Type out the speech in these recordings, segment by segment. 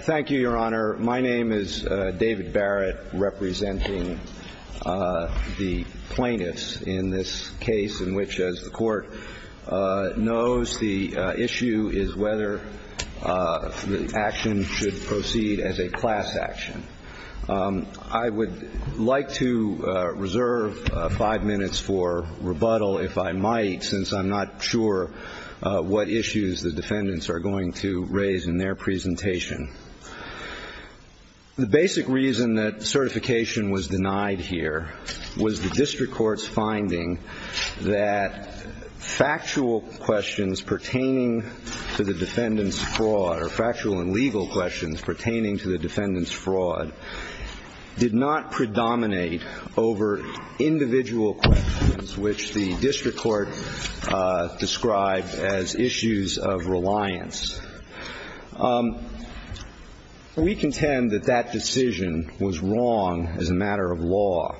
Thank you, Your Honor. My name is David Barrett, representing the plaintiffs in this case in which, as the Court knows, the issue is whether the action should proceed as a class action. I would like to reserve five minutes for rebuttal, if I might, since I'm not sure what issues the defendants are going to raise in their presentation. The basic reason that certification was denied here was the district court's finding that factual questions pertaining to the defendant's fraud, or factual and legal questions pertaining to the defendant's fraud, did not predominate over individual questions, which the district court described as issues of reliance. We contend that that decision was wrong as a matter of law.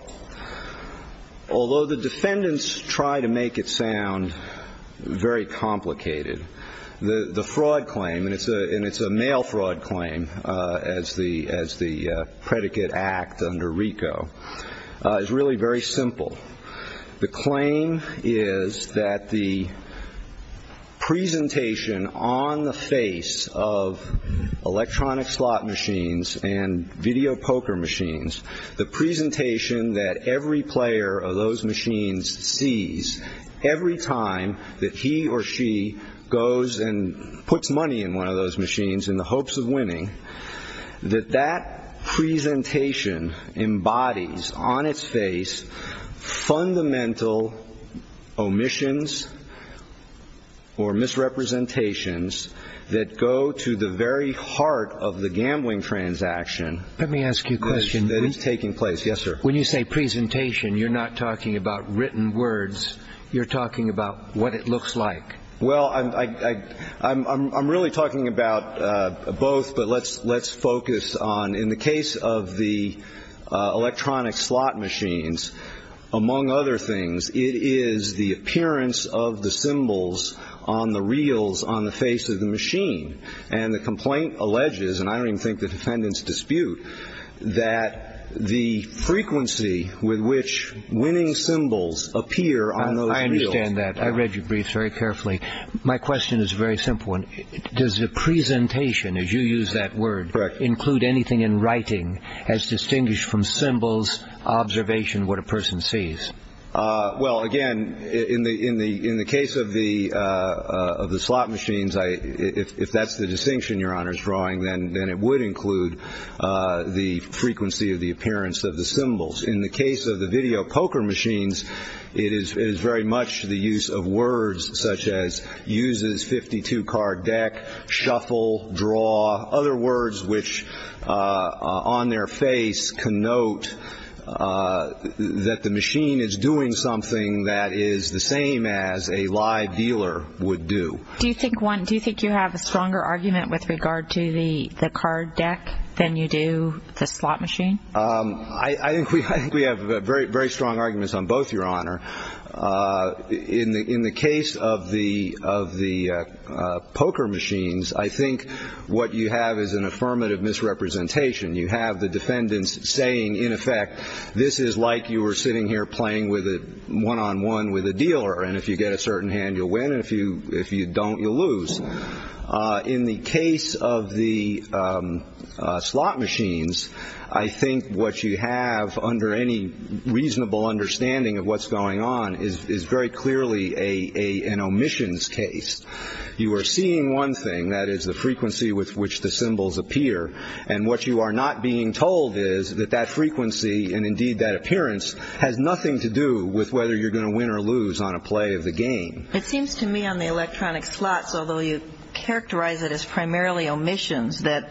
Although the defendants try to make it sound very complicated, the fraud claim, and it's a male fraud claim as the predicate act under RICO, is really very simple. The claim is that the presentation on the face of electronic slot machines and video poker machines, the presentation that every player of those machines sees every time that he or she goes and puts money in one of those machines in the hopes of winning, that that presentation embodies on its face fundamental omissions or misrepresentations that go to the very heart of the gambling transaction. Let me ask you a question. That is taking place. Yes, sir. When you say presentation, you're not talking about written words. You're talking about what it looks like. Well, I'm really talking about both, but let's focus on, in the case of the electronic slot machines, among other things, it is the appearance of the symbols on the reels on the face of the machine. And the complaint alleges, and I don't even think the defendants dispute, that the frequency with which winning symbols appear on those reels. I understand that. I read your briefs very carefully. My question is a very simple one. Does the presentation, as you use that word, include anything in writing as distinguished from symbols, observation, what a person sees? Well, again, in the case of the slot machines, if that's the distinction Your Honor is drawing, then it would include the frequency of the appearance of the symbols. In the case of the video poker machines, it is very much the use of words such as uses 52 card deck, shuffle, draw, other words which on their face can note that the machine is doing something that is the same as a live dealer would do. Do you think you have a stronger argument with regard to the card deck than you do the slot machine? I think we have very strong arguments on both, Your Honor. In the case of the poker machines, I think what you have is an affirmative misrepresentation. You have the defendants saying, in effect, this is like you were sitting here playing one-on-one with a dealer, and if you get a certain hand, you'll win, and if you don't, you'll lose. In the case of the slot machines, I think what you have, under any reasonable understanding of what's going on, is very clearly an omissions case. You are seeing one thing, that is the frequency with which the symbols appear, and what you are not being told is that that frequency, and indeed that appearance, has nothing to do with whether you're going to win or lose on a play of the game. It seems to me on the electronic slots, although you characterize it as primarily omissions, that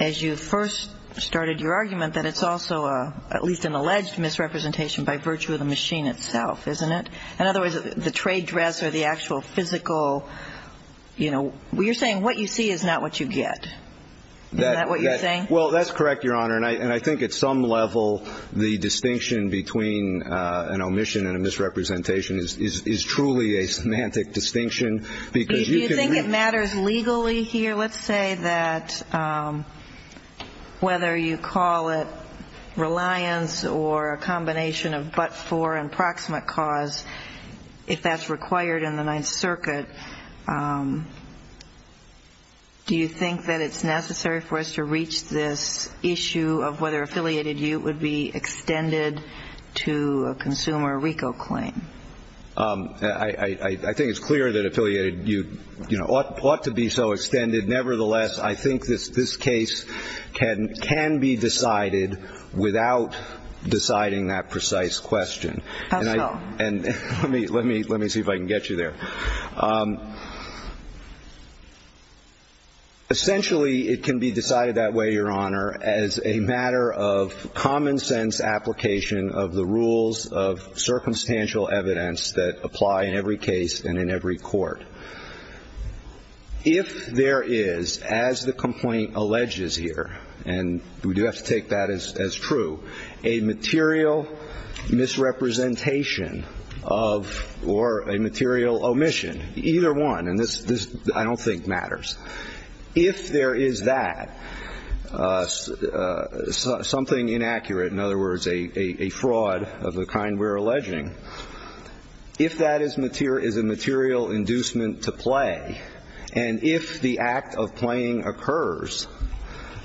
as you first started your argument, that it's also at least an alleged misrepresentation by virtue of the machine itself, isn't it? In other words, the trade dress or the actual physical, you know, you're saying what you see is not what you get. Isn't that what you're saying? Well, that's correct, Your Honor, and I think at some level, the distinction between an omission and a misrepresentation is truly a semantic distinction, because you can... Do you think it matters legally here? Your Honor, let's say that whether you call it reliance or a combination of but for and proximate cause, if that's required in the Ninth Circuit, do you think that it's necessary for us to reach this issue of whether affiliated ute would be extended to a consumer RICO claim? I think it's clear that affiliated ute ought to be so extended. Nevertheless, I think this case can be decided without deciding that precise question. How so? Let me see if I can get you there. Essentially, it can be decided that way, Your Honor, as a matter of common sense application of the rules of circumstantial evidence that apply in every case and in every court. If there is, as the complaint alleges here, and we do have to take that as true, a material misrepresentation of or a material omission, either one, and this I don't think matters. If there is that, something inaccurate, in other words, a fraud of the kind we're alleging, if that is a material inducement to play, and if the act of playing occurs,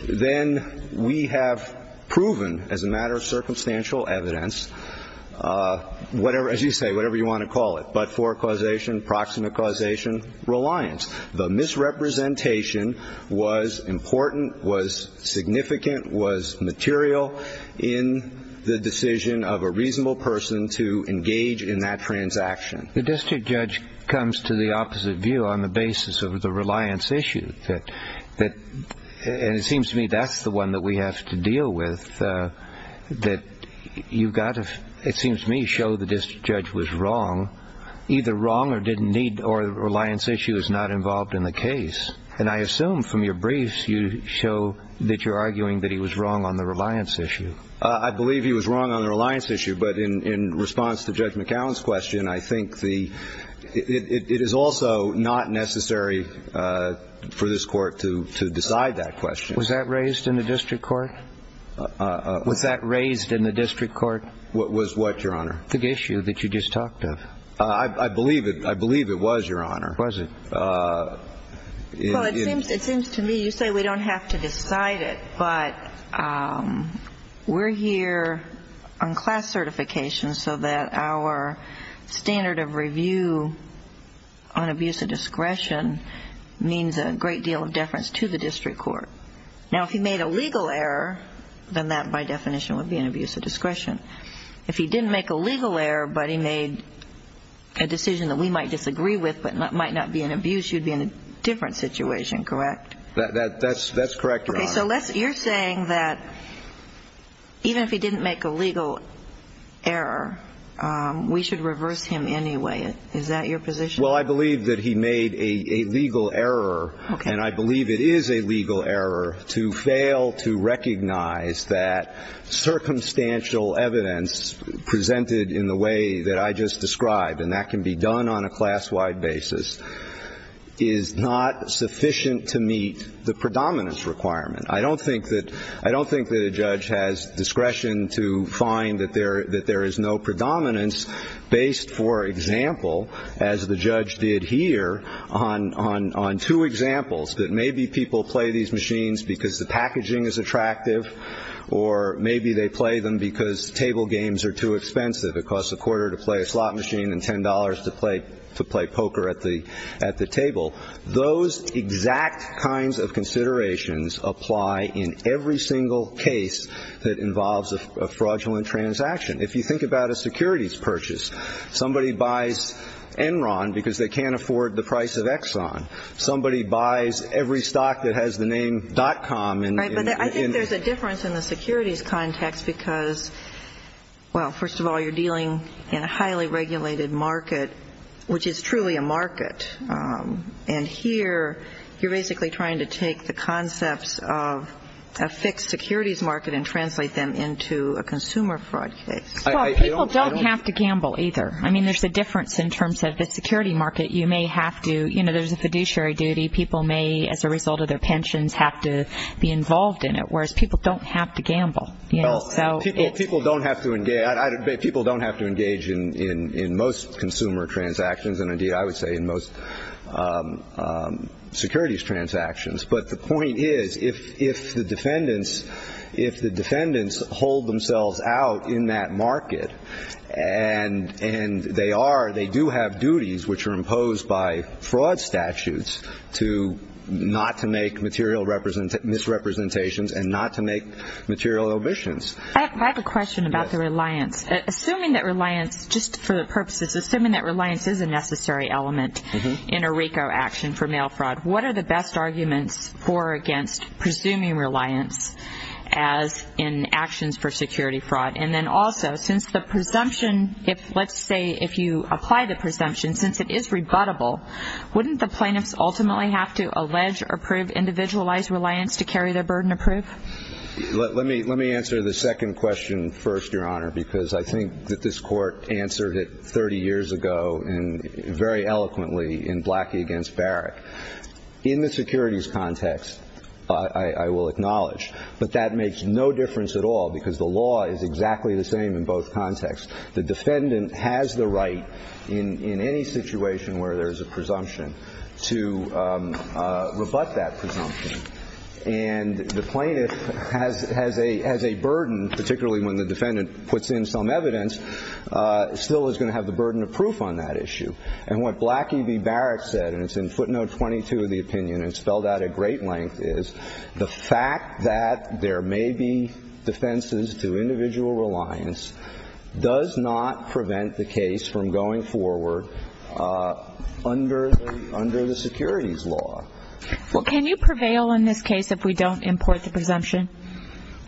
then we have proven as a matter of circumstantial evidence, as you say, whatever you want to call it, but for causation, proximate causation, reliance. The misrepresentation was important, was significant, was material in the decision of a reasonable person to engage in that transaction. The district judge comes to the opposite view on the basis of the reliance issue, and it seems to me that's the one that we have to deal with, that you've got to, it seems to me, show the district judge was wrong, either wrong or didn't need, or reliance issue is not involved in the case. And I assume from your briefs you show that you're arguing that he was wrong on the reliance issue. I believe he was wrong on the reliance issue, but in response to Judge McAllen's question, I think it is also not necessary for this court to decide that question. Was that raised in the district court? Was that raised in the district court? Was what, Your Honor? The issue that you just talked of. I believe it was, Your Honor. Was it? Well, it seems to me, you say we don't have to decide it, but we're here on class certification so that our standard of review on abuse of discretion means a great deal of deference to the district court. Now, if he made a legal error, then that, by definition, would be an abuse of discretion. If he didn't make a legal error but he made a decision that we might disagree with but might not be an abuse, you'd be in a different situation, correct? That's correct, Your Honor. Okay, so you're saying that even if he didn't make a legal error, we should reverse him anyway. Is that your position? Well, I believe that he made a legal error. Okay. And I believe it is a legal error to fail to recognize that circumstantial evidence presented in the way that I just described, and that can be done on a class-wide basis, is not sufficient to meet the predominance requirement. I don't think that a judge has discretion to find that there is no predominance based, for example, as the judge did here, on two examples, that maybe people play these machines because the packaging is attractive or maybe they play them because table games are too expensive. It costs a quarter to play a slot machine and $10 to play poker at the table. Those exact kinds of considerations apply in every single case that involves a fraudulent transaction. If you think about a securities purchase, somebody buys Enron because they can't afford the price of Exxon. Somebody buys every stock that has the name dot-com. Right, but I think there's a difference in the securities context because, well, first of all, you're dealing in a highly regulated market, which is truly a market. And here you're basically trying to take the concepts of a fixed securities market and translate them into a consumer fraud case. Well, people don't have to gamble either. I mean, there's a difference in terms of the security market. You may have to, you know, there's a fiduciary duty. People may, as a result of their pensions, have to be involved in it, whereas people don't have to gamble. People don't have to engage in most consumer transactions and, indeed, I would say in most securities transactions. But the point is, if the defendants hold themselves out in that market, and they are, they do have duties which are imposed by fraud statutes to not to make material misrepresentations and not to make material omissions. I have a question about the reliance. Assuming that reliance, just for the purposes, assuming that reliance is a necessary element in a RICO action for mail fraud, what are the best arguments for or against presuming reliance as in actions for security fraud? And then also, since the presumption, if, let's say, if you apply the presumption, since it is rebuttable, wouldn't the plaintiffs ultimately have to allege or prove individualized reliance to carry their burden of proof? Let me answer the second question first, Your Honor, because I think that this Court answered it 30 years ago and very eloquently in Blackie against Barrick. In the securities context, I will acknowledge, but that makes no difference at all because the law is exactly the same in both contexts. The defendant has the right in any situation where there is a presumption to rebut that presumption. And the plaintiff has a burden, particularly when the defendant puts in some evidence, still is going to have the burden of proof on that issue. And what Blackie v. Barrick said, and it's in footnote 22 of the opinion, and it's spelled out at great length, is the fact that there may be defenses to individual reliance does not prevent the case from going forward under the securities law. Well, can you prevail in this case if we don't import the presumption?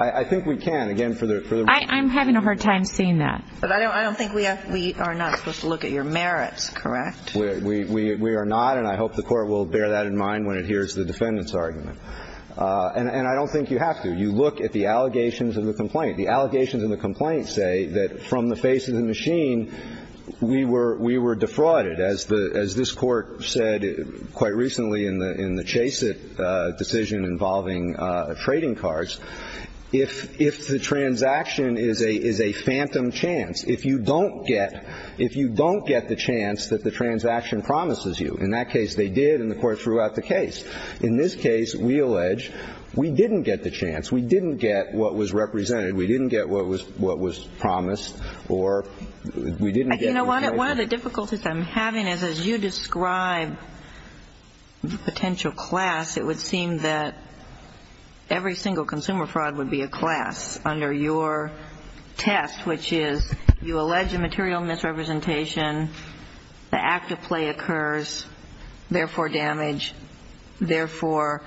I think we can. Again, for the reason of... I'm having a hard time seeing that. But I don't think we are not supposed to look at your merits, correct? We are not, and I hope the Court will bear that in mind when it hears the defendant's argument. And I don't think you have to. You look at the allegations of the complaint. The allegations of the complaint say that from the face of the machine, we were defrauded. As this Court said quite recently in the Chaseit decision involving trading cards, if the transaction is a phantom chance, if you don't get the chance that the transaction promises you, in that case they did, and the Court threw out the case. In this case, we allege we didn't get the chance. We didn't get what was represented. We didn't get what was promised, or we didn't get... You know, one of the difficulties I'm having is as you describe the potential class, it would seem that every single consumer fraud would be a class under your test, which is you allege a material misrepresentation. The act of play occurs. Therefore, damage. Therefore,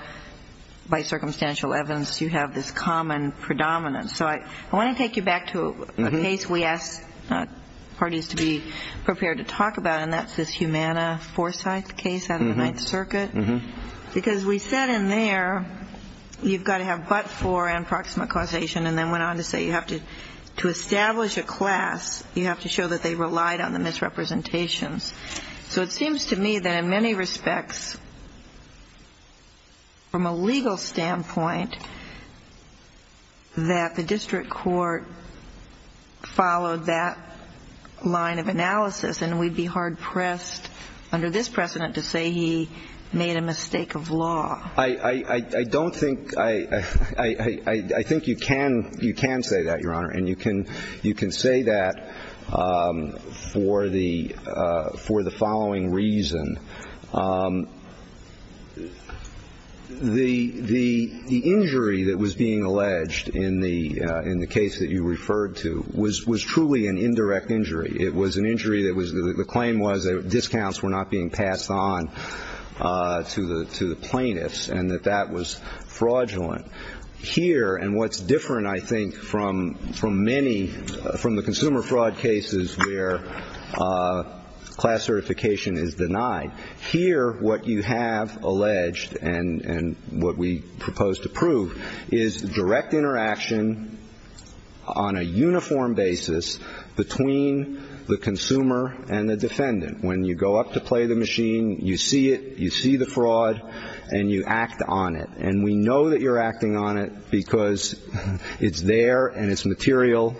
by circumstantial evidence, you have this common predominance. So I want to take you back to a case we asked parties to be prepared to talk about, and that's this Humana-Forsyth case out of the Ninth Circuit. Because we said in there you've got to have but-for and proximate causation, and then went on to say you have to establish a class, you have to show that they relied on the misrepresentations. So it seems to me that in many respects, from a legal standpoint, that the district court followed that line of analysis, and we'd be hard-pressed under this precedent to say he made a mistake of law. I don't think you can say that, Your Honor, and you can say that for the following reason. The injury that was being alleged in the case that you referred to was truly an indirect injury. It was an injury that was the claim was that discounts were not being passed on to the plaintiffs and that that was fraudulent. Here, and what's different, I think, from many, from the consumer fraud cases where class certification is denied, here what you have alleged and what we propose to prove is direct interaction on a uniform basis between the consumer and the defendant. When you go up to play the machine, you see it, you see the fraud, and you act on it. And we know that you're acting on it because it's there and it's material,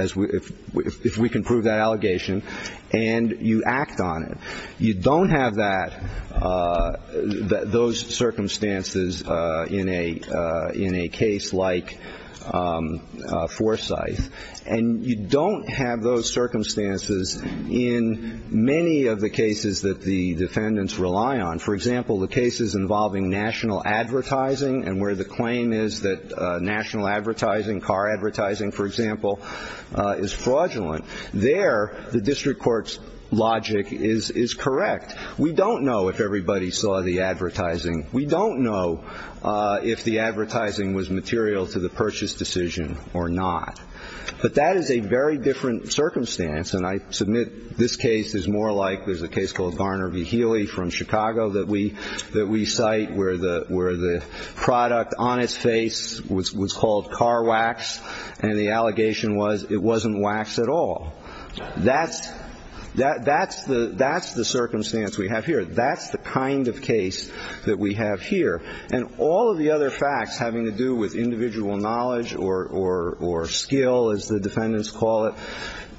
if we can prove that allegation, and you act on it. You don't have those circumstances in a case like Forsyth. And you don't have those circumstances in many of the cases that the defendants rely on. For example, the cases involving national advertising and where the claim is that national advertising, car advertising, for example, is fraudulent. There, the district court's logic is correct. We don't know if everybody saw the advertising. We don't know if the advertising was material to the purchase decision or not. But that is a very different circumstance. And I submit this case is more like there's a case called Varner v. Healy from Chicago that we cite where the product on its face was called car wax and the allegation was it wasn't wax at all. That's the circumstance we have here. That's the kind of case that we have here. And all of the other facts having to do with individual knowledge or skill, as the defendants call it,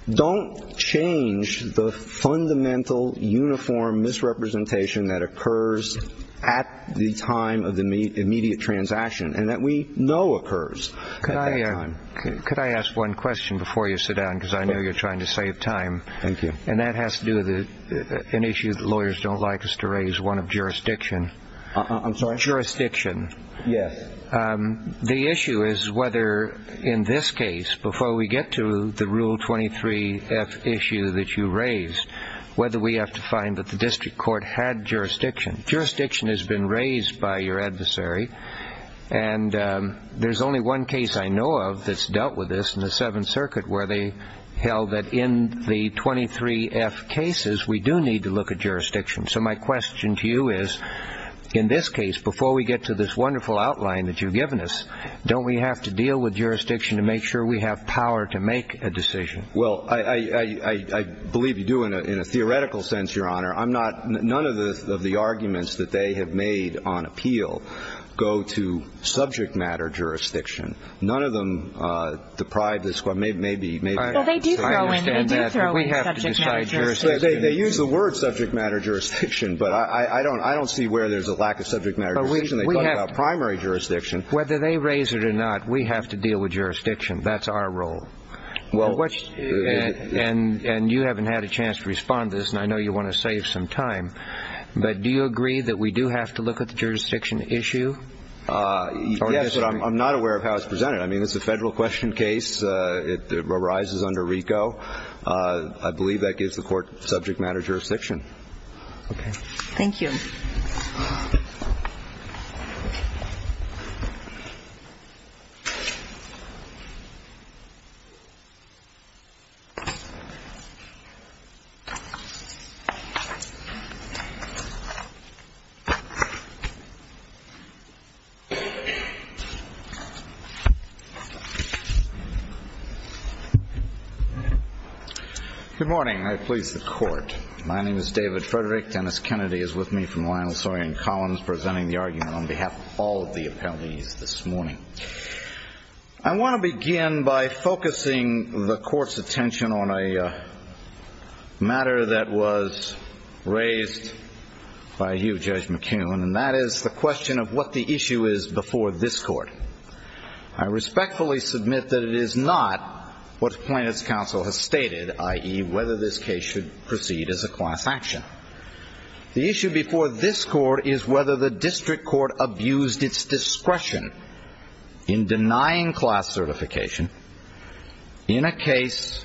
don't change the fundamental uniform misrepresentation that occurs at the time of the immediate transaction and that we know occurs at that time. Could I ask one question before you sit down because I know you're trying to save time. Thank you. And that has to do with an issue that lawyers don't like us to raise, one of jurisdiction. I'm sorry? Jurisdiction. Yes. The issue is whether in this case, before we get to the Rule 23-F issue that you raised, whether we have to find that the district court had jurisdiction. Jurisdiction has been raised by your adversary, and there's only one case I know of that's dealt with this in the Seventh Circuit where they held that in the 23-F cases we do need to look at jurisdiction. So my question to you is, in this case, before we get to this wonderful outline that you've given us, don't we have to deal with jurisdiction to make sure we have power to make a decision? Well, I believe you do in a theoretical sense, Your Honor. None of the arguments that they have made on appeal go to subject matter jurisdiction. None of them deprive this court, maybe. Well, they do throw in subject matter jurisdiction. They use the word subject matter jurisdiction, but I don't see where there's a lack of subject matter jurisdiction. They talk about primary jurisdiction. Whether they raise it or not, we have to deal with jurisdiction. That's our role. And you haven't had a chance to respond to this, and I know you want to save some time, but do you agree that we do have to look at the jurisdiction issue? Yes, but I'm not aware of how it's presented. I mean, it's a Federal question case. It arises under RICO. I believe that gives the court subject matter jurisdiction. Okay. Thank you. Good morning. I please the Court. My name is David Frederick. Dennis Kennedy is with me from Lionel Sawyer & Collins presenting the argument on behalf of all of the appellees this morning. I want to begin by focusing the Court's attention on a matter that was raised by you, Judge McKeown, and that is the question of what the issue is before this Court. I respectfully submit that it is not what plaintiff's counsel has stated, i.e., whether this case should proceed as a class action. The issue before this Court is whether the district court abused its discretion in denying class certification in a case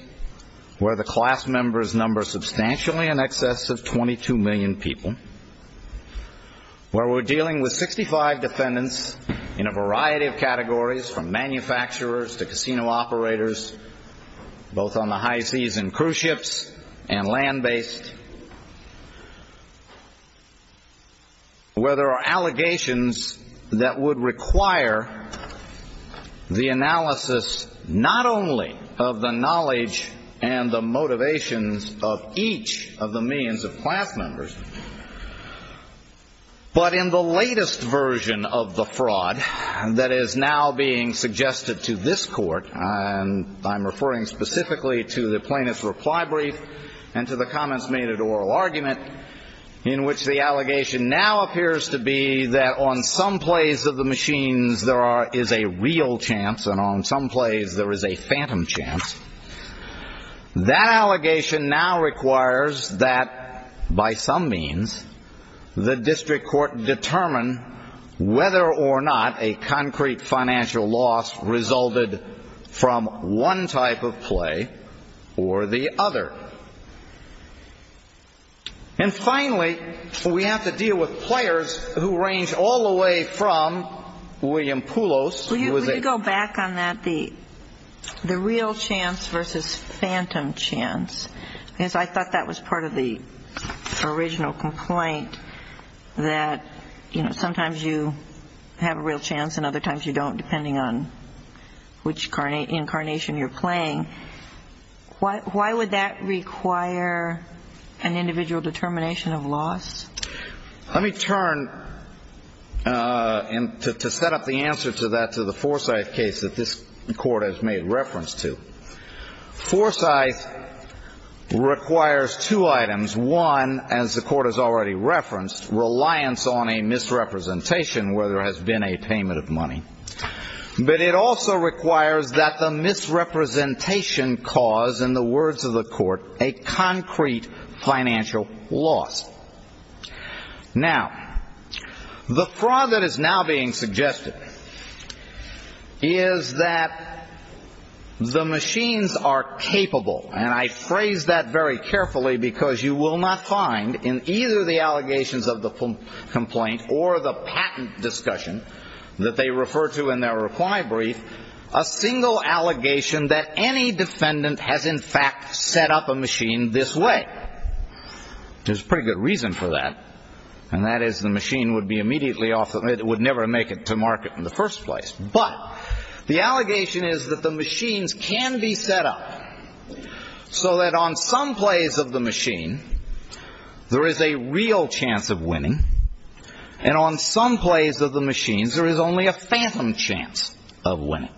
where the class members number substantially in excess of 22 million people, where we're dealing with 65 defendants in a variety of categories from manufacturers to casino operators, both on the high seas and cruise ships and land-based, where there are allegations that would require the analysis not only of the knowledge and the motivations of each of the millions of class members, but in the latest version of the fraud that is now being suggested to this Court, and I'm referring specifically to the plaintiff's reply brief and to the comments made at oral argument, in which the allegation now appears to be that on some plays of the machines there is a real chance and on some plays there is a phantom chance. That allegation now requires that, by some means, the district court determine whether or not a concrete financial loss resulted from one type of play or the other. And finally, we have to deal with players who range all the way from William Poulos, who is a... Chance versus phantom chance, because I thought that was part of the original complaint, that sometimes you have a real chance and other times you don't, depending on which incarnation you're playing. Why would that require an individual determination of loss? Let me turn, to set up the answer to that, to the Forsyth case that this Court has made reference to. Forsyth requires two items. One, as the Court has already referenced, reliance on a misrepresentation where there has been a payment of money. But it also requires that the misrepresentation cause, in the words of the Court, a concrete financial loss. Now, the fraud that is now being suggested is that the machines are capable, and I phrase that very carefully because you will not find in either the allegations of the complaint or the patent discussion that they refer to in their reply brief, a single allegation that any defendant has in fact set up a machine this way. There's a pretty good reason for that, and that is the machine would be immediately off, it would never make it to market in the first place. But, the allegation is that the machines can be set up so that on some plays of the machine, there is a real chance of winning, and on some plays of the machines there is only a phantom chance of winning.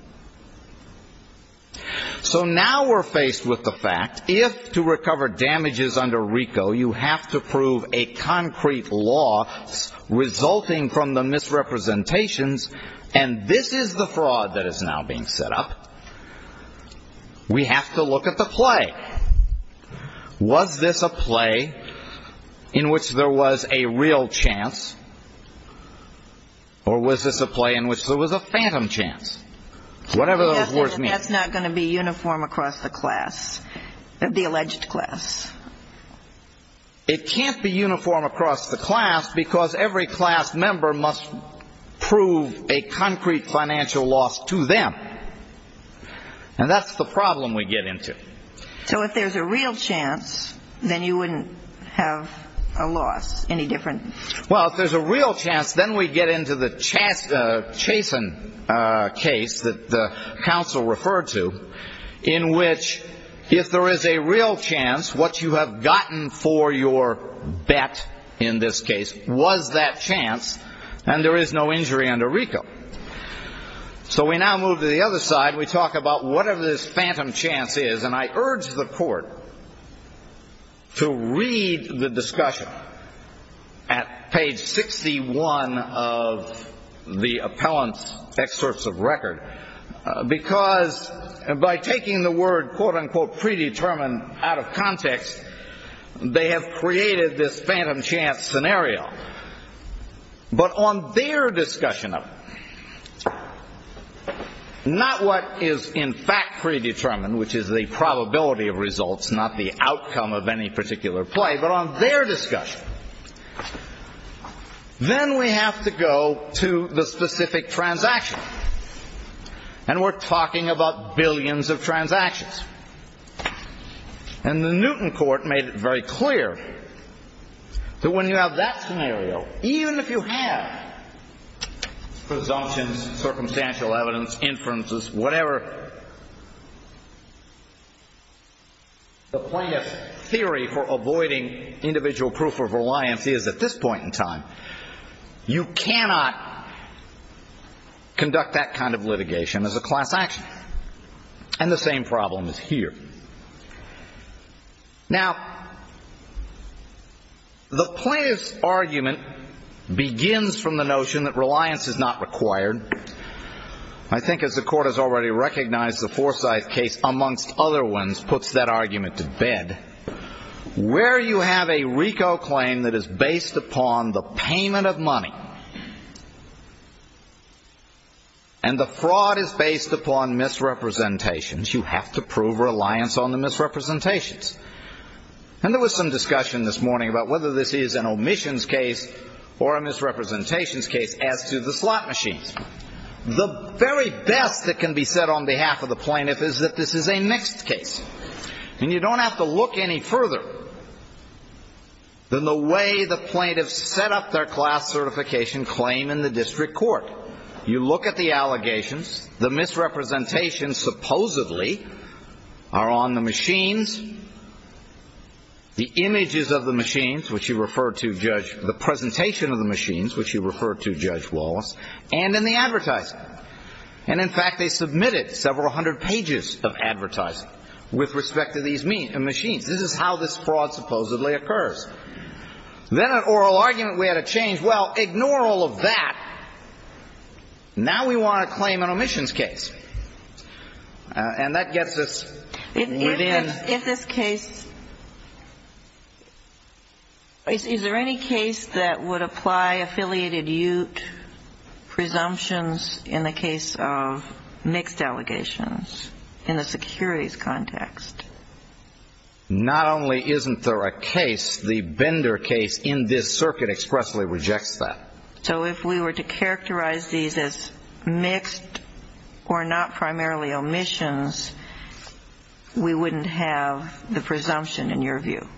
So now we're faced with the fact, if to recover damages under RICO, you have to prove a concrete loss resulting from the misrepresentations, and this is the fraud that is now being set up, we have to look at the play. Was this a play in which there was a real chance, or was this a play in which there was a phantom chance? Whatever those words mean. That's not going to be uniform across the class, the alleged class. It can't be uniform across the class because every class member must prove a concrete financial loss to them. And that's the problem we get into. So if there's a real chance, then you wouldn't have a loss, any different? Well, if there's a real chance, then we get into the Chason case that the counsel referred to, in which, if there is a real chance, what you have gotten for your bet, in this case, was that chance, and there is no injury under RICO. So we now move to the other side. We talk about whatever this phantom chance is, and I urge the Court to read the discussion at page 61 of the appellant's excerpts of record because by taking the word, quote, unquote, predetermined out of context, they have created this phantom chance scenario. But on their discussion of it, not what is in fact predetermined, which is the probability of results, not the outcome of any particular play, but on their discussion, then we have to go to the specific transaction. And we're talking about billions of transactions. And the Newton Court made it very clear that when you have that scenario, even if you have presumptions, circumstantial evidence, inferences, whatever, the plaintiff's theory for avoiding individual proof of reliance is, at this point in time, you cannot conduct that kind of litigation as a class action. And the same problem is here. Now, the plaintiff's argument begins from the notion that reliance is not required. I think as the Court has already recognized, the Forsyth case, amongst other ones, puts that argument to bed. Where you have a RICO claim that is based upon the payment of money and the fraud is based upon misrepresentations. You have to prove reliance on the misrepresentations. And there was some discussion this morning about whether this is an omissions case or a misrepresentations case as to the slot machines. The very best that can be said on behalf of the plaintiff is that this is a mixed case. And you don't have to look any further than the way the plaintiff set up their class certification claim in the district court. You look at the allegations. The misrepresentations supposedly are on the machines, the images of the machines, which you referred to, Judge, the presentation of the machines, which you referred to, Judge Wallace, and in the advertising. And in fact, they submitted several hundred pages of advertising with respect to these machines. This is how this fraud supposedly occurs. Then an oral argument we had to change. Well, ignore all of that. Now we want to claim an omissions case. And that gets us within... If this case... Is there any case that would apply affiliated UTE presumptions in the case of mixed allegations in the securities context? Not only isn't there a case, the Bender case in this circuit expressly rejects that. So if we were to characterize these as mixed or not primarily omissions, we wouldn't have the presumption in your view?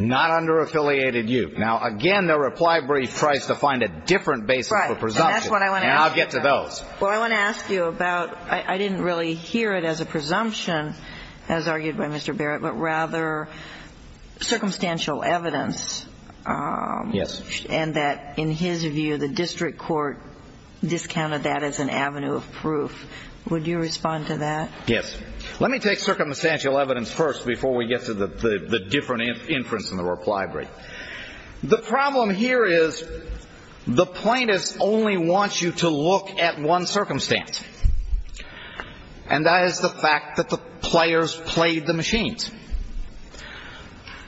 Not under affiliated UTE. Now, again, the reply brief tries to find a different basis for presumption. Right, and that's what I want to ask you about. And I'll get to those. Well, I want to ask you about... I didn't really hear it as a presumption, as argued by Mr. Barrett, but rather circumstantial evidence. Yes. And that, in his view, the district court discounted that as an avenue of proof. Would you respond to that? Yes. Let me take circumstantial evidence first before we get to the different inference in the reply brief. The problem here is the plaintiffs only want you to look at one circumstance. And that is the fact that the players played the machines.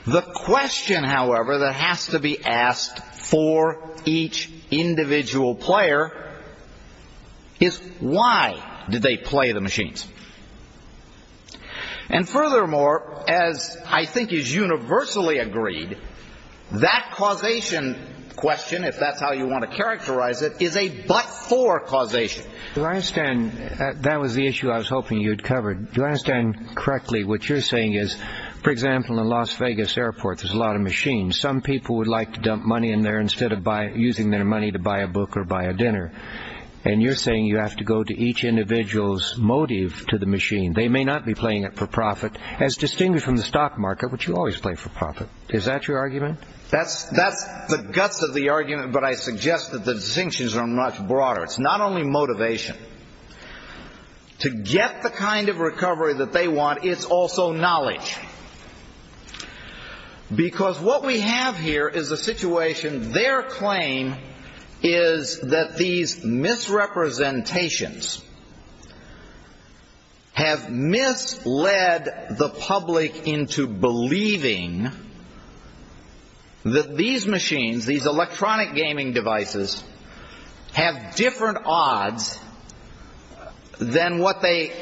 The question, however, that has to be asked for each individual player is why did they play the machines? And furthermore, as I think is universally agreed, that causation question, if that's how you want to characterize it, is a but-for causation. Do I understand... that was the issue I was hoping you'd cover. Do I understand correctly what you're saying is, for example, in Las Vegas airport, there's a lot of machines. Some people would like to dump money in there instead of using their money to buy a book or buy a dinner. And you're saying you have to go to each individual's motive to the machine. They may not be playing it for profit, as distinguished from the stock market, which you always play for profit. Is that your argument? That's the guts of the argument, but I suggest that the distinctions are much broader. It's not only motivation. To get the kind of recovery that they want, it's also knowledge. Because what we have here is a situation, their claim is that these misrepresentations have misled the public into believing that these machines, these electronic gaming devices, have different odds than what they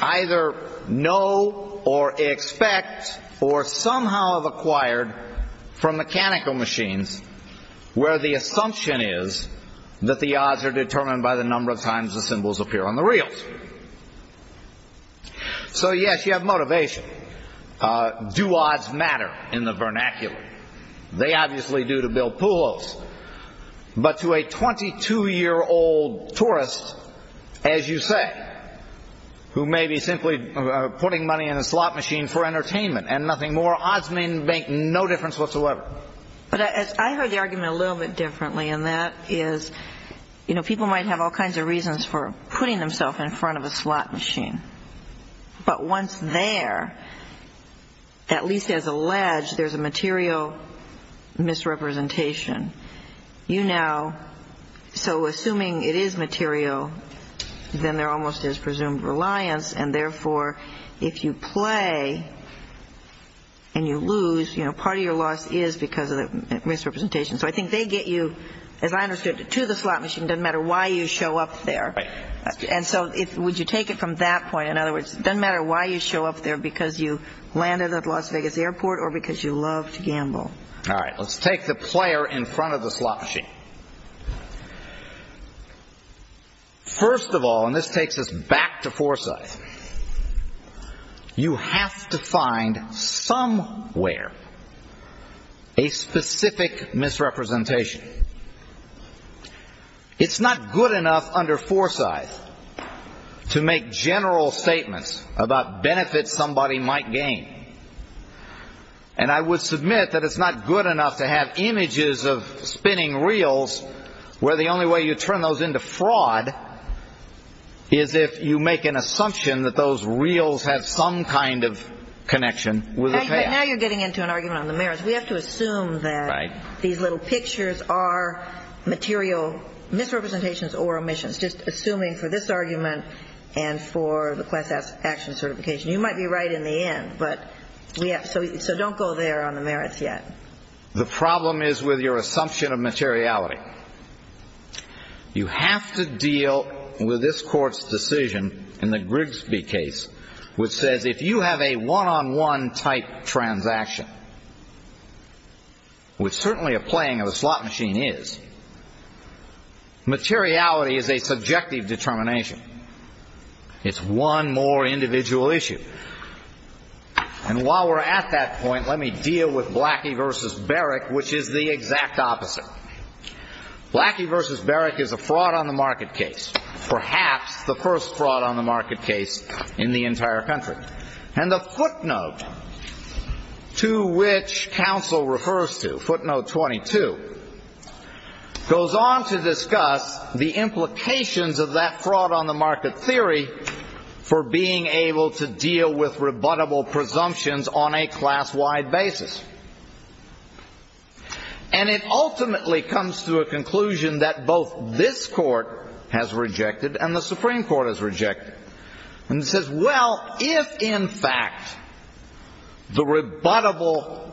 either know or expect or somehow have acquired from mechanical machines, where the assumption is that the odds are determined by the number of times the symbols appear on the reels. So, yes, you have motivation. Do odds matter in the vernacular? They obviously do to Bill Poulos. But to a 22-year-old tourist, as you say, who may be simply putting money in a slot machine for entertainment and nothing more, odds make no difference whatsoever. But I heard the argument a little bit differently, and that is, you know, people might have all kinds of reasons for putting themselves in front of a slot machine. But once there, at least as alleged, there's a material misrepresentation. You now, so assuming it is material, then there almost is presumed reliance, and therefore, if you play and you lose, you know, part of your loss is because of the misrepresentation. So I think they get you, as I understood it, to the slot machine. It doesn't matter why you show up there. And so would you take it from that point? In other words, it doesn't matter why you show up there, because you landed at Las Vegas Airport or because you love to gamble. All right, let's take the player in front of the slot machine. First of all, and this takes us back to Forsyth, you have to find somewhere a specific misrepresentation. It's not good enough under Forsyth to make general statements about benefits somebody might gain. And I would submit that it's not good enough to have images of spinning reels where the only way you turn those into fraud is if you make an assumption that those reels have some kind of connection with the payout. Now you're getting into an argument on the merits. We have to assume that these little pictures are material misrepresentations or omissions, just assuming for this argument and for the class action certification. You might be right in the end, but we have to, so don't go there on the merits yet. Second, the problem is with your assumption of materiality. You have to deal with this court's decision in the Grigsby case, which says if you have a one-on-one type transaction, which certainly a playing of a slot machine is, materiality is a subjective determination. It's one more individual issue. And while we're at that point, let me deal with Blackie v. Barrick, which is the exact opposite. Blackie v. Barrick is a fraud on the market case, perhaps the first fraud on the market case in the entire country. And the footnote to which counsel refers to, footnote 22, goes on to discuss the implications of that fraud on the market theory for being able to deal with rebuttable presumptions on a class-wide basis. And it ultimately comes to a conclusion that both this court has rejected and the Supreme Court has rejected. And it says, well, if in fact the rebuttable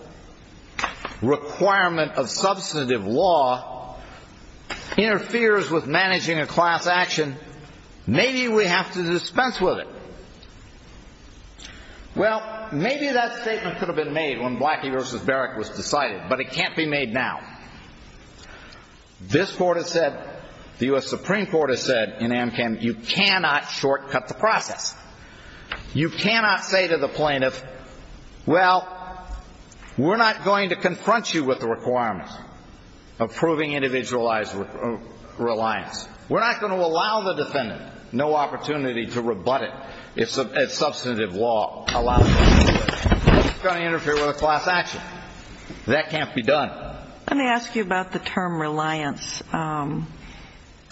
requirement of substantive law interferes with managing a class action, maybe we have to dispense with it. Well, maybe that statement could have been made when Blackie v. Barrick was decided, but it can't be made now. This court has said, the U.S. Supreme Court has said in AMCAM, you cannot shortcut the process. You cannot say to the plaintiff, well, we're not going to confront you with the requirements of proving individualized reliance. We're not going to allow the defendant no opportunity to rebut it if substantive law allows it. It's going to interfere with a class action. That can't be done. Let me ask you about the term reliance.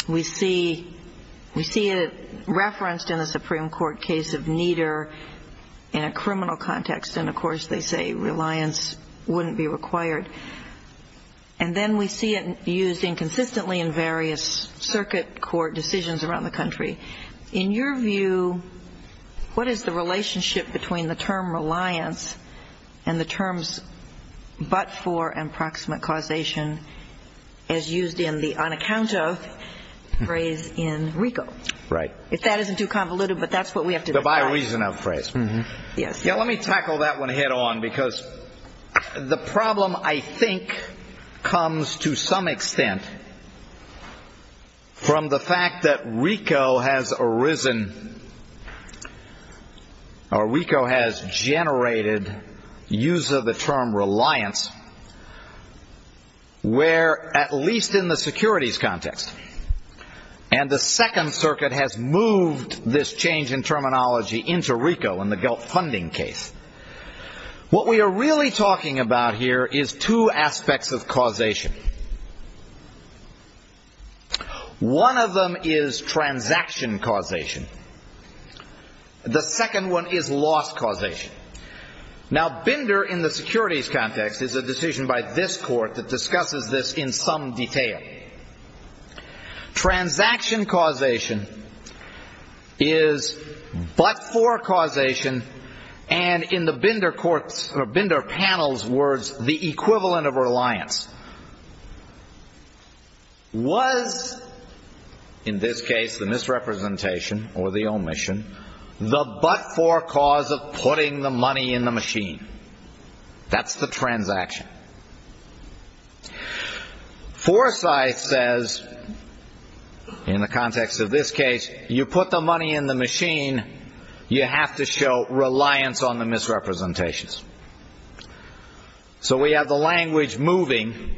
We see it referenced in the Supreme Court case of Nieder in a criminal context, and of course they say reliance wouldn't be required. And then we see it used inconsistently in various circuit court decisions around the country. In your view, what is the relationship between the term reliance and the terms but for and proximate causation as used in the unaccount of phrase in RICO? Right. If that isn't too convoluted, but that's what we have to define. The by reason of phrase. Yes. Yeah, let me tackle that one head on because the problem, I think, comes to some extent from the fact that RICO has arisen, or RICO has generated, use of the term reliance, where at least in the securities context, and the Second Circuit has moved this change in terminology into RICO in the GELP funding case. What we are really talking about here is two aspects of causation. One of them is transaction causation. The second one is loss causation. Now, Binder in the securities context is a decision by this court that discusses this in some detail. Transaction causation is but for causation, and in the Binder panel's words, the equivalent of reliance. Was, in this case, the misrepresentation or the omission, the but for cause of putting the money in the machine. That's the transaction. Forsythe says, in the context of this case, you put the money in the machine, you have to show reliance on the misrepresentations. So we have the language moving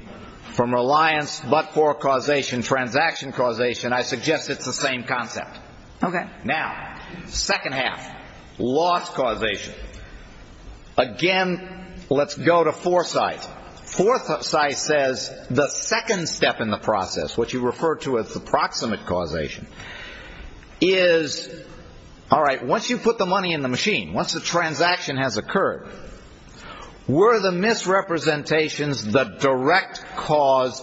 from reliance, but for causation, transaction causation. I suggest it's the same concept. Okay. Now, second half, loss causation. Again, let's go to Forsythe. Forsythe says the second step in the process, which he referred to as the proximate causation, is, all right, once you put the money in the machine, once the transaction has occurred, were the misrepresentations the direct cause,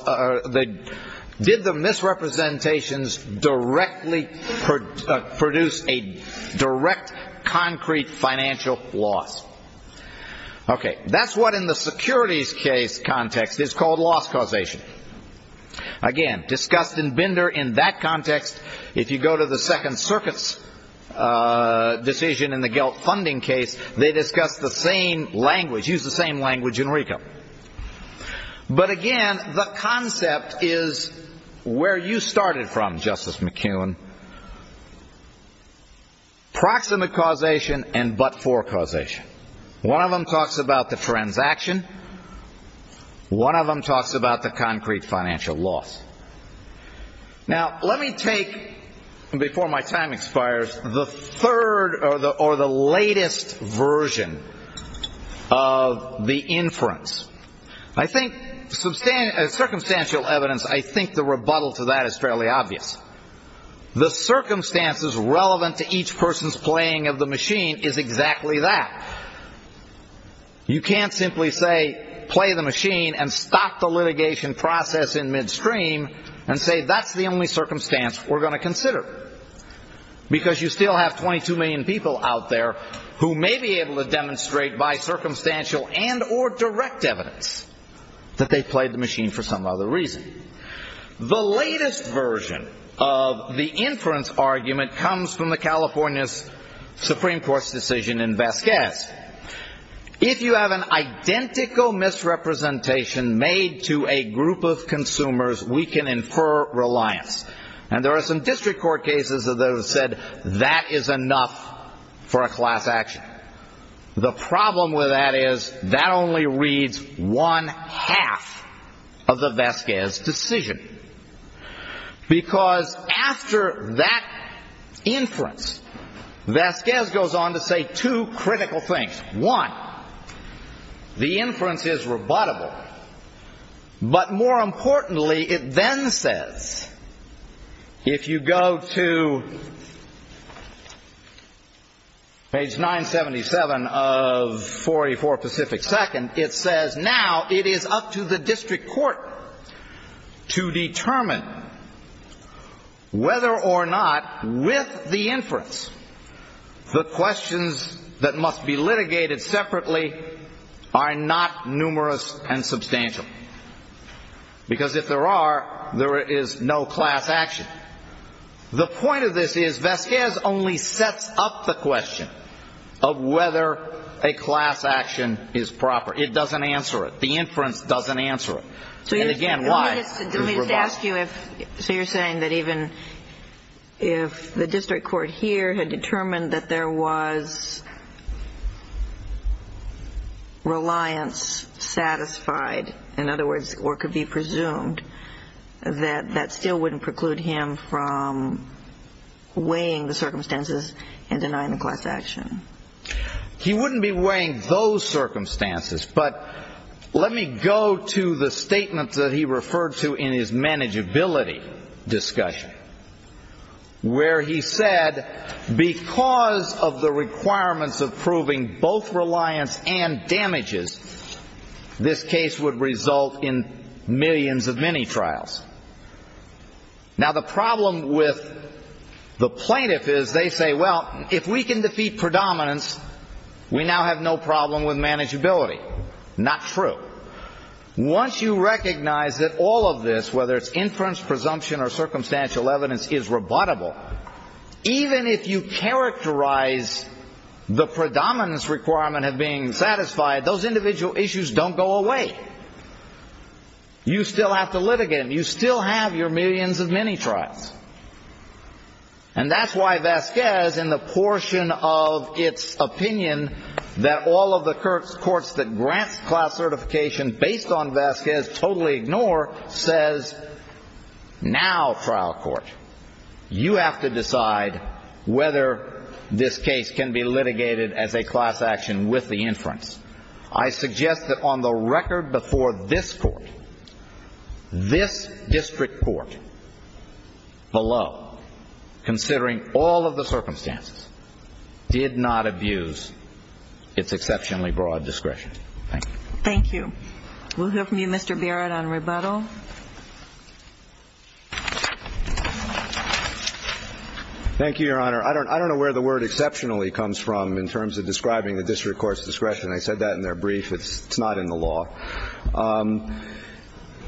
did the misrepresentations directly produce a direct concrete financial loss? Okay. That's what in the securities case context is called loss causation. Again, discussed in Binder in that context, if you go to the Second Circuit's decision in the GELT funding case, they discuss the same language, use the same language in RICO. But again, the concept is where you started from, Justice McKeown. Proximate causation and but-for causation. One of them talks about the transaction. One of them talks about the concrete financial loss. Now, let me take, before my time expires, the third or the latest version of the inference. I think circumstantial evidence, I think the rebuttal to that is fairly obvious. The circumstances relevant to each person's playing of the machine is exactly that. You can't simply say, play the machine and stop the litigation process in midstream and say that's the only circumstance we're going to consider. Because you still have 22 million people out there who may be able to demonstrate by circumstantial and or direct evidence that they played the machine for some other reason. The latest version of the inference argument comes from the California's Supreme Court's decision in Vasquez. If you have an identical misrepresentation made to a group of consumers, we can infer reliance. And there are some district court cases that have said that is enough for a class action. The problem with that is that only reads one half of the Vasquez decision. Because after that inference, Vasquez goes on to say two critical things. One, the inference is rebuttable. But more importantly, it then says, if you go to page 977 of 44 Pacific Second, it says now it is up to the district court to determine whether or not with the inference The questions that must be litigated separately are not numerous and substantial. Because if there are, there is no class action. The point of this is Vasquez only sets up the question of whether a class action is proper. It doesn't answer it. The inference doesn't answer it. And again, why? So you're saying that even if the district court here had determined that there was reliance satisfied, in other words, or could be presumed, that that still wouldn't preclude him from weighing the circumstances and denying the class action. He wouldn't be weighing those circumstances. But let me go to the statement that he referred to in his manageability discussion, where he said, because of the requirements of proving both reliance and damages, this case would result in millions of mini-trials. Now the problem with the plaintiff is they say, well, if we can defeat predominance, we now have no problem with manageability. Not true. Once you recognize that all of this, whether it's inference, presumption, or circumstantial evidence, is rebuttable, even if you characterize the predominance requirement of being satisfied, those individual issues don't go away. You still have to litigate. You still have your millions of mini-trials. And that's why Vasquez, in the portion of its opinion that all of the courts that grant class certification based on Vasquez totally ignore, says, now, trial court, you have to decide whether this case can be litigated as a class action with the inference. I suggest that on the record before this court, this district court, below, considering all of the circumstances, did not abuse its exceptionally broad discretion. Thank you. Thank you. We'll hear from you, Mr. Barrett, on rebuttal. Thank you, Your Honor. I don't know where the word exceptionally comes from in terms of describing the district court's discretion. I said that in their brief. It's not in the law.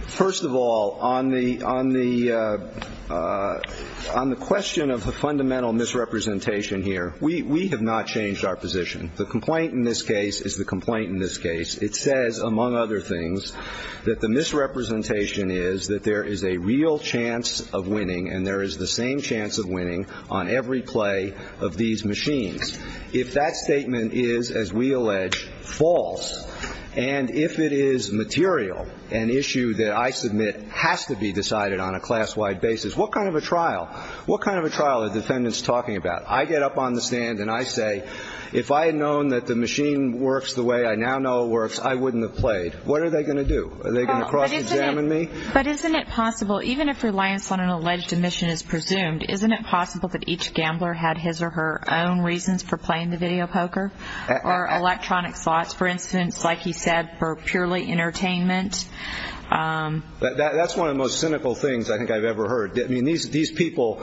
First of all, on the question of the fundamental misrepresentation here, we have not changed our position. The complaint in this case is the complaint in this case. It says, among other things, that the misrepresentation is that there is a real chance of winning, and there is the same chance of winning on every play of these machines. If that statement is, as we allege, false, and if it is material, an issue that I submit has to be decided on a class-wide basis, what kind of a trial? What kind of a trial are defendants talking about? I get up on the stand, and I say, if I had known that the machine works the way I now know it works, I wouldn't have played. What are they going to do? Are they going to cross-examine me? But isn't it possible, even if reliance on an alleged omission is presumed, isn't it possible that each gambler had his or her own reasons for playing the video poker or electronic slots? For instance, like he said, for purely entertainment. That's one of the most cynical things I think I've ever heard. I mean, these people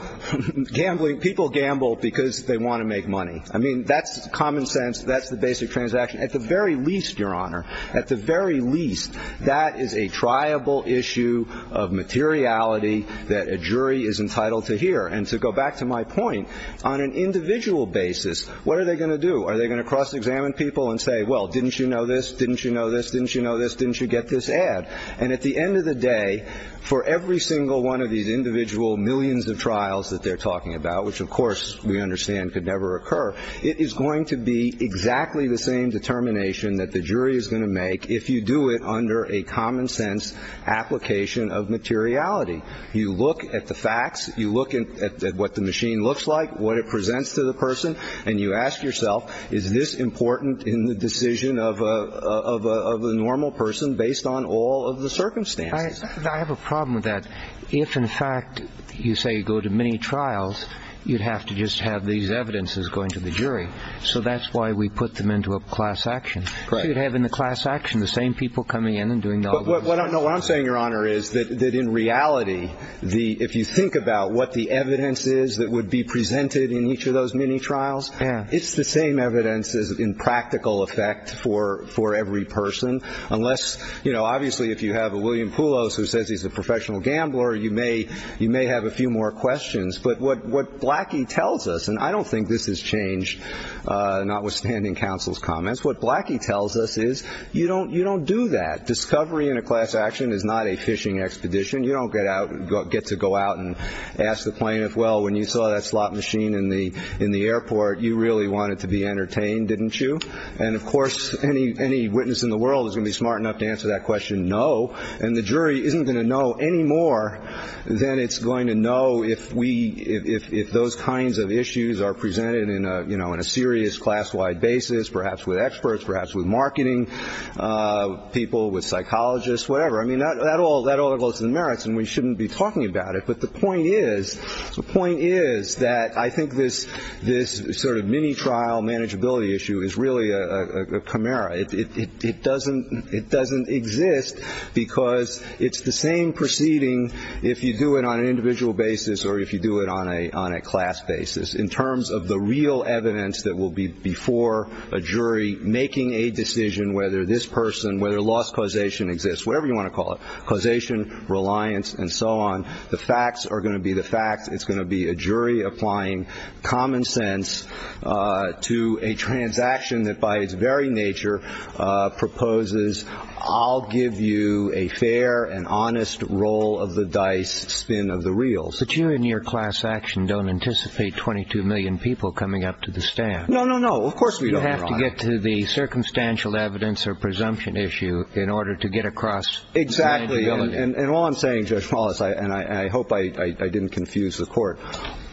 gamble because they want to make money. I mean, that's common sense. That's the basic transaction. At the very least, Your Honor, at the very least, that is a triable issue of materiality that a jury is entitled to hear. And to go back to my point, on an individual basis, what are they going to do? Are they going to cross-examine people and say, well, didn't you know this? Didn't you know this? Didn't you know this? Didn't you get this ad? And at the end of the day, for every single one of these individual millions of trials that they're talking about, which of course we understand could never occur, it is going to be exactly the same determination that the jury is going to make if you do it under a common sense application of materiality. You look at the facts, you look at what the machine looks like, what it presents to the person, and you ask yourself, is this important in the decision of a normal person based on all of the circumstances? I have a problem with that. If, in fact, you say you go to many trials, you'd have to just have these evidences going to the jury. So that's why we put them into a class action. Right. So you'd have in the class action the same people coming in and doing all the work. What I'm saying, Your Honor, is that in reality, if you think about what the evidence is that would be presented in each of those many trials, it's the same evidence in practical effect for every person. Obviously, if you have a William Poulos who says he's a professional gambler, you may have a few more questions. But what Blackie tells us, and I don't think this has changed notwithstanding counsel's comments, what Blackie tells us is you don't do that. Discovery in a class action is not a fishing expedition. You don't get to go out and ask the plaintiff, Well, when you saw that slot machine in the airport, you really wanted to be entertained, didn't you? And, of course, any witness in the world is going to be smart enough to answer that question, no. And the jury isn't going to know any more than it's going to know if those kinds of issues are presented in a serious class-wide basis, perhaps with experts, perhaps with marketing people, with psychologists, whatever. I mean, that all goes to the merits, and we shouldn't be talking about it. But the point is that I think this sort of mini-trial manageability issue is really a chimera. It doesn't exist because it's the same proceeding if you do it on an individual basis or if you do it on a class basis in terms of the real evidence that will be before a jury, making a decision whether this person, whether loss causation exists, whatever you want to call it, causation, reliance, and so on. The facts are going to be the facts. It's going to be a jury applying common sense to a transaction that by its very nature proposes, I'll give you a fair and honest roll of the dice spin of the reels. But you and your class action don't anticipate 22 million people coming up to the stand. No, no, no. Of course we don't, Ron. You have to get to the circumstantial evidence or presumption issue in order to get across manageability. And all I'm saying, Judge Paulus, and I hope I didn't confuse the court,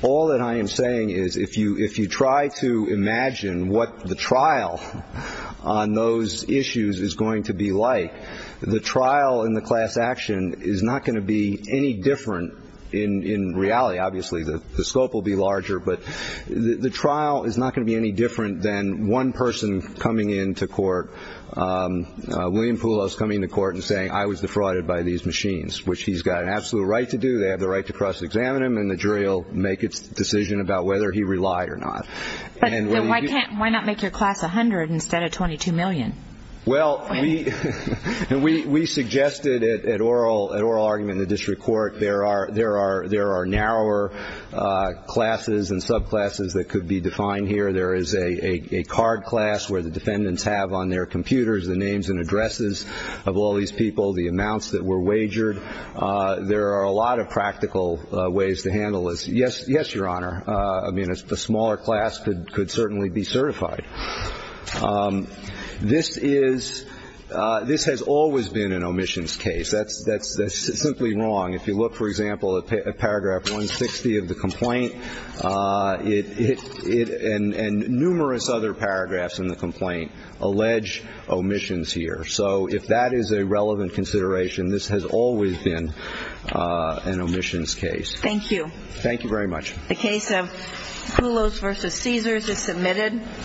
all that I am saying is if you try to imagine what the trial on those issues is going to be like, the trial in the class action is not going to be any different in reality. Obviously the scope will be larger. But the trial is not going to be any different than one person coming into court, William Poulos coming to court and saying I was defrauded by these machines, which he's got an absolute right to do. They have the right to cross-examine him, and the jury will make its decision about whether he relied or not. But why not make your class 100 instead of 22 million? Well, we suggested at oral argument in the district court there are narrower classes and subclasses that could be defined here. There is a card class where the defendants have on their computers the names and addresses of all these people, the amounts that were wagered. There are a lot of practical ways to handle this. Yes, Your Honor. I mean, a smaller class could certainly be certified. This has always been an omissions case. That's simply wrong. If you look, for example, at paragraph 160 of the complaint, and numerous other paragraphs in the complaint allege omissions here. So if that is a relevant consideration, this has always been an omissions case. Thank you. Thank you very much. The case of Poulos v. Caesars is submitted.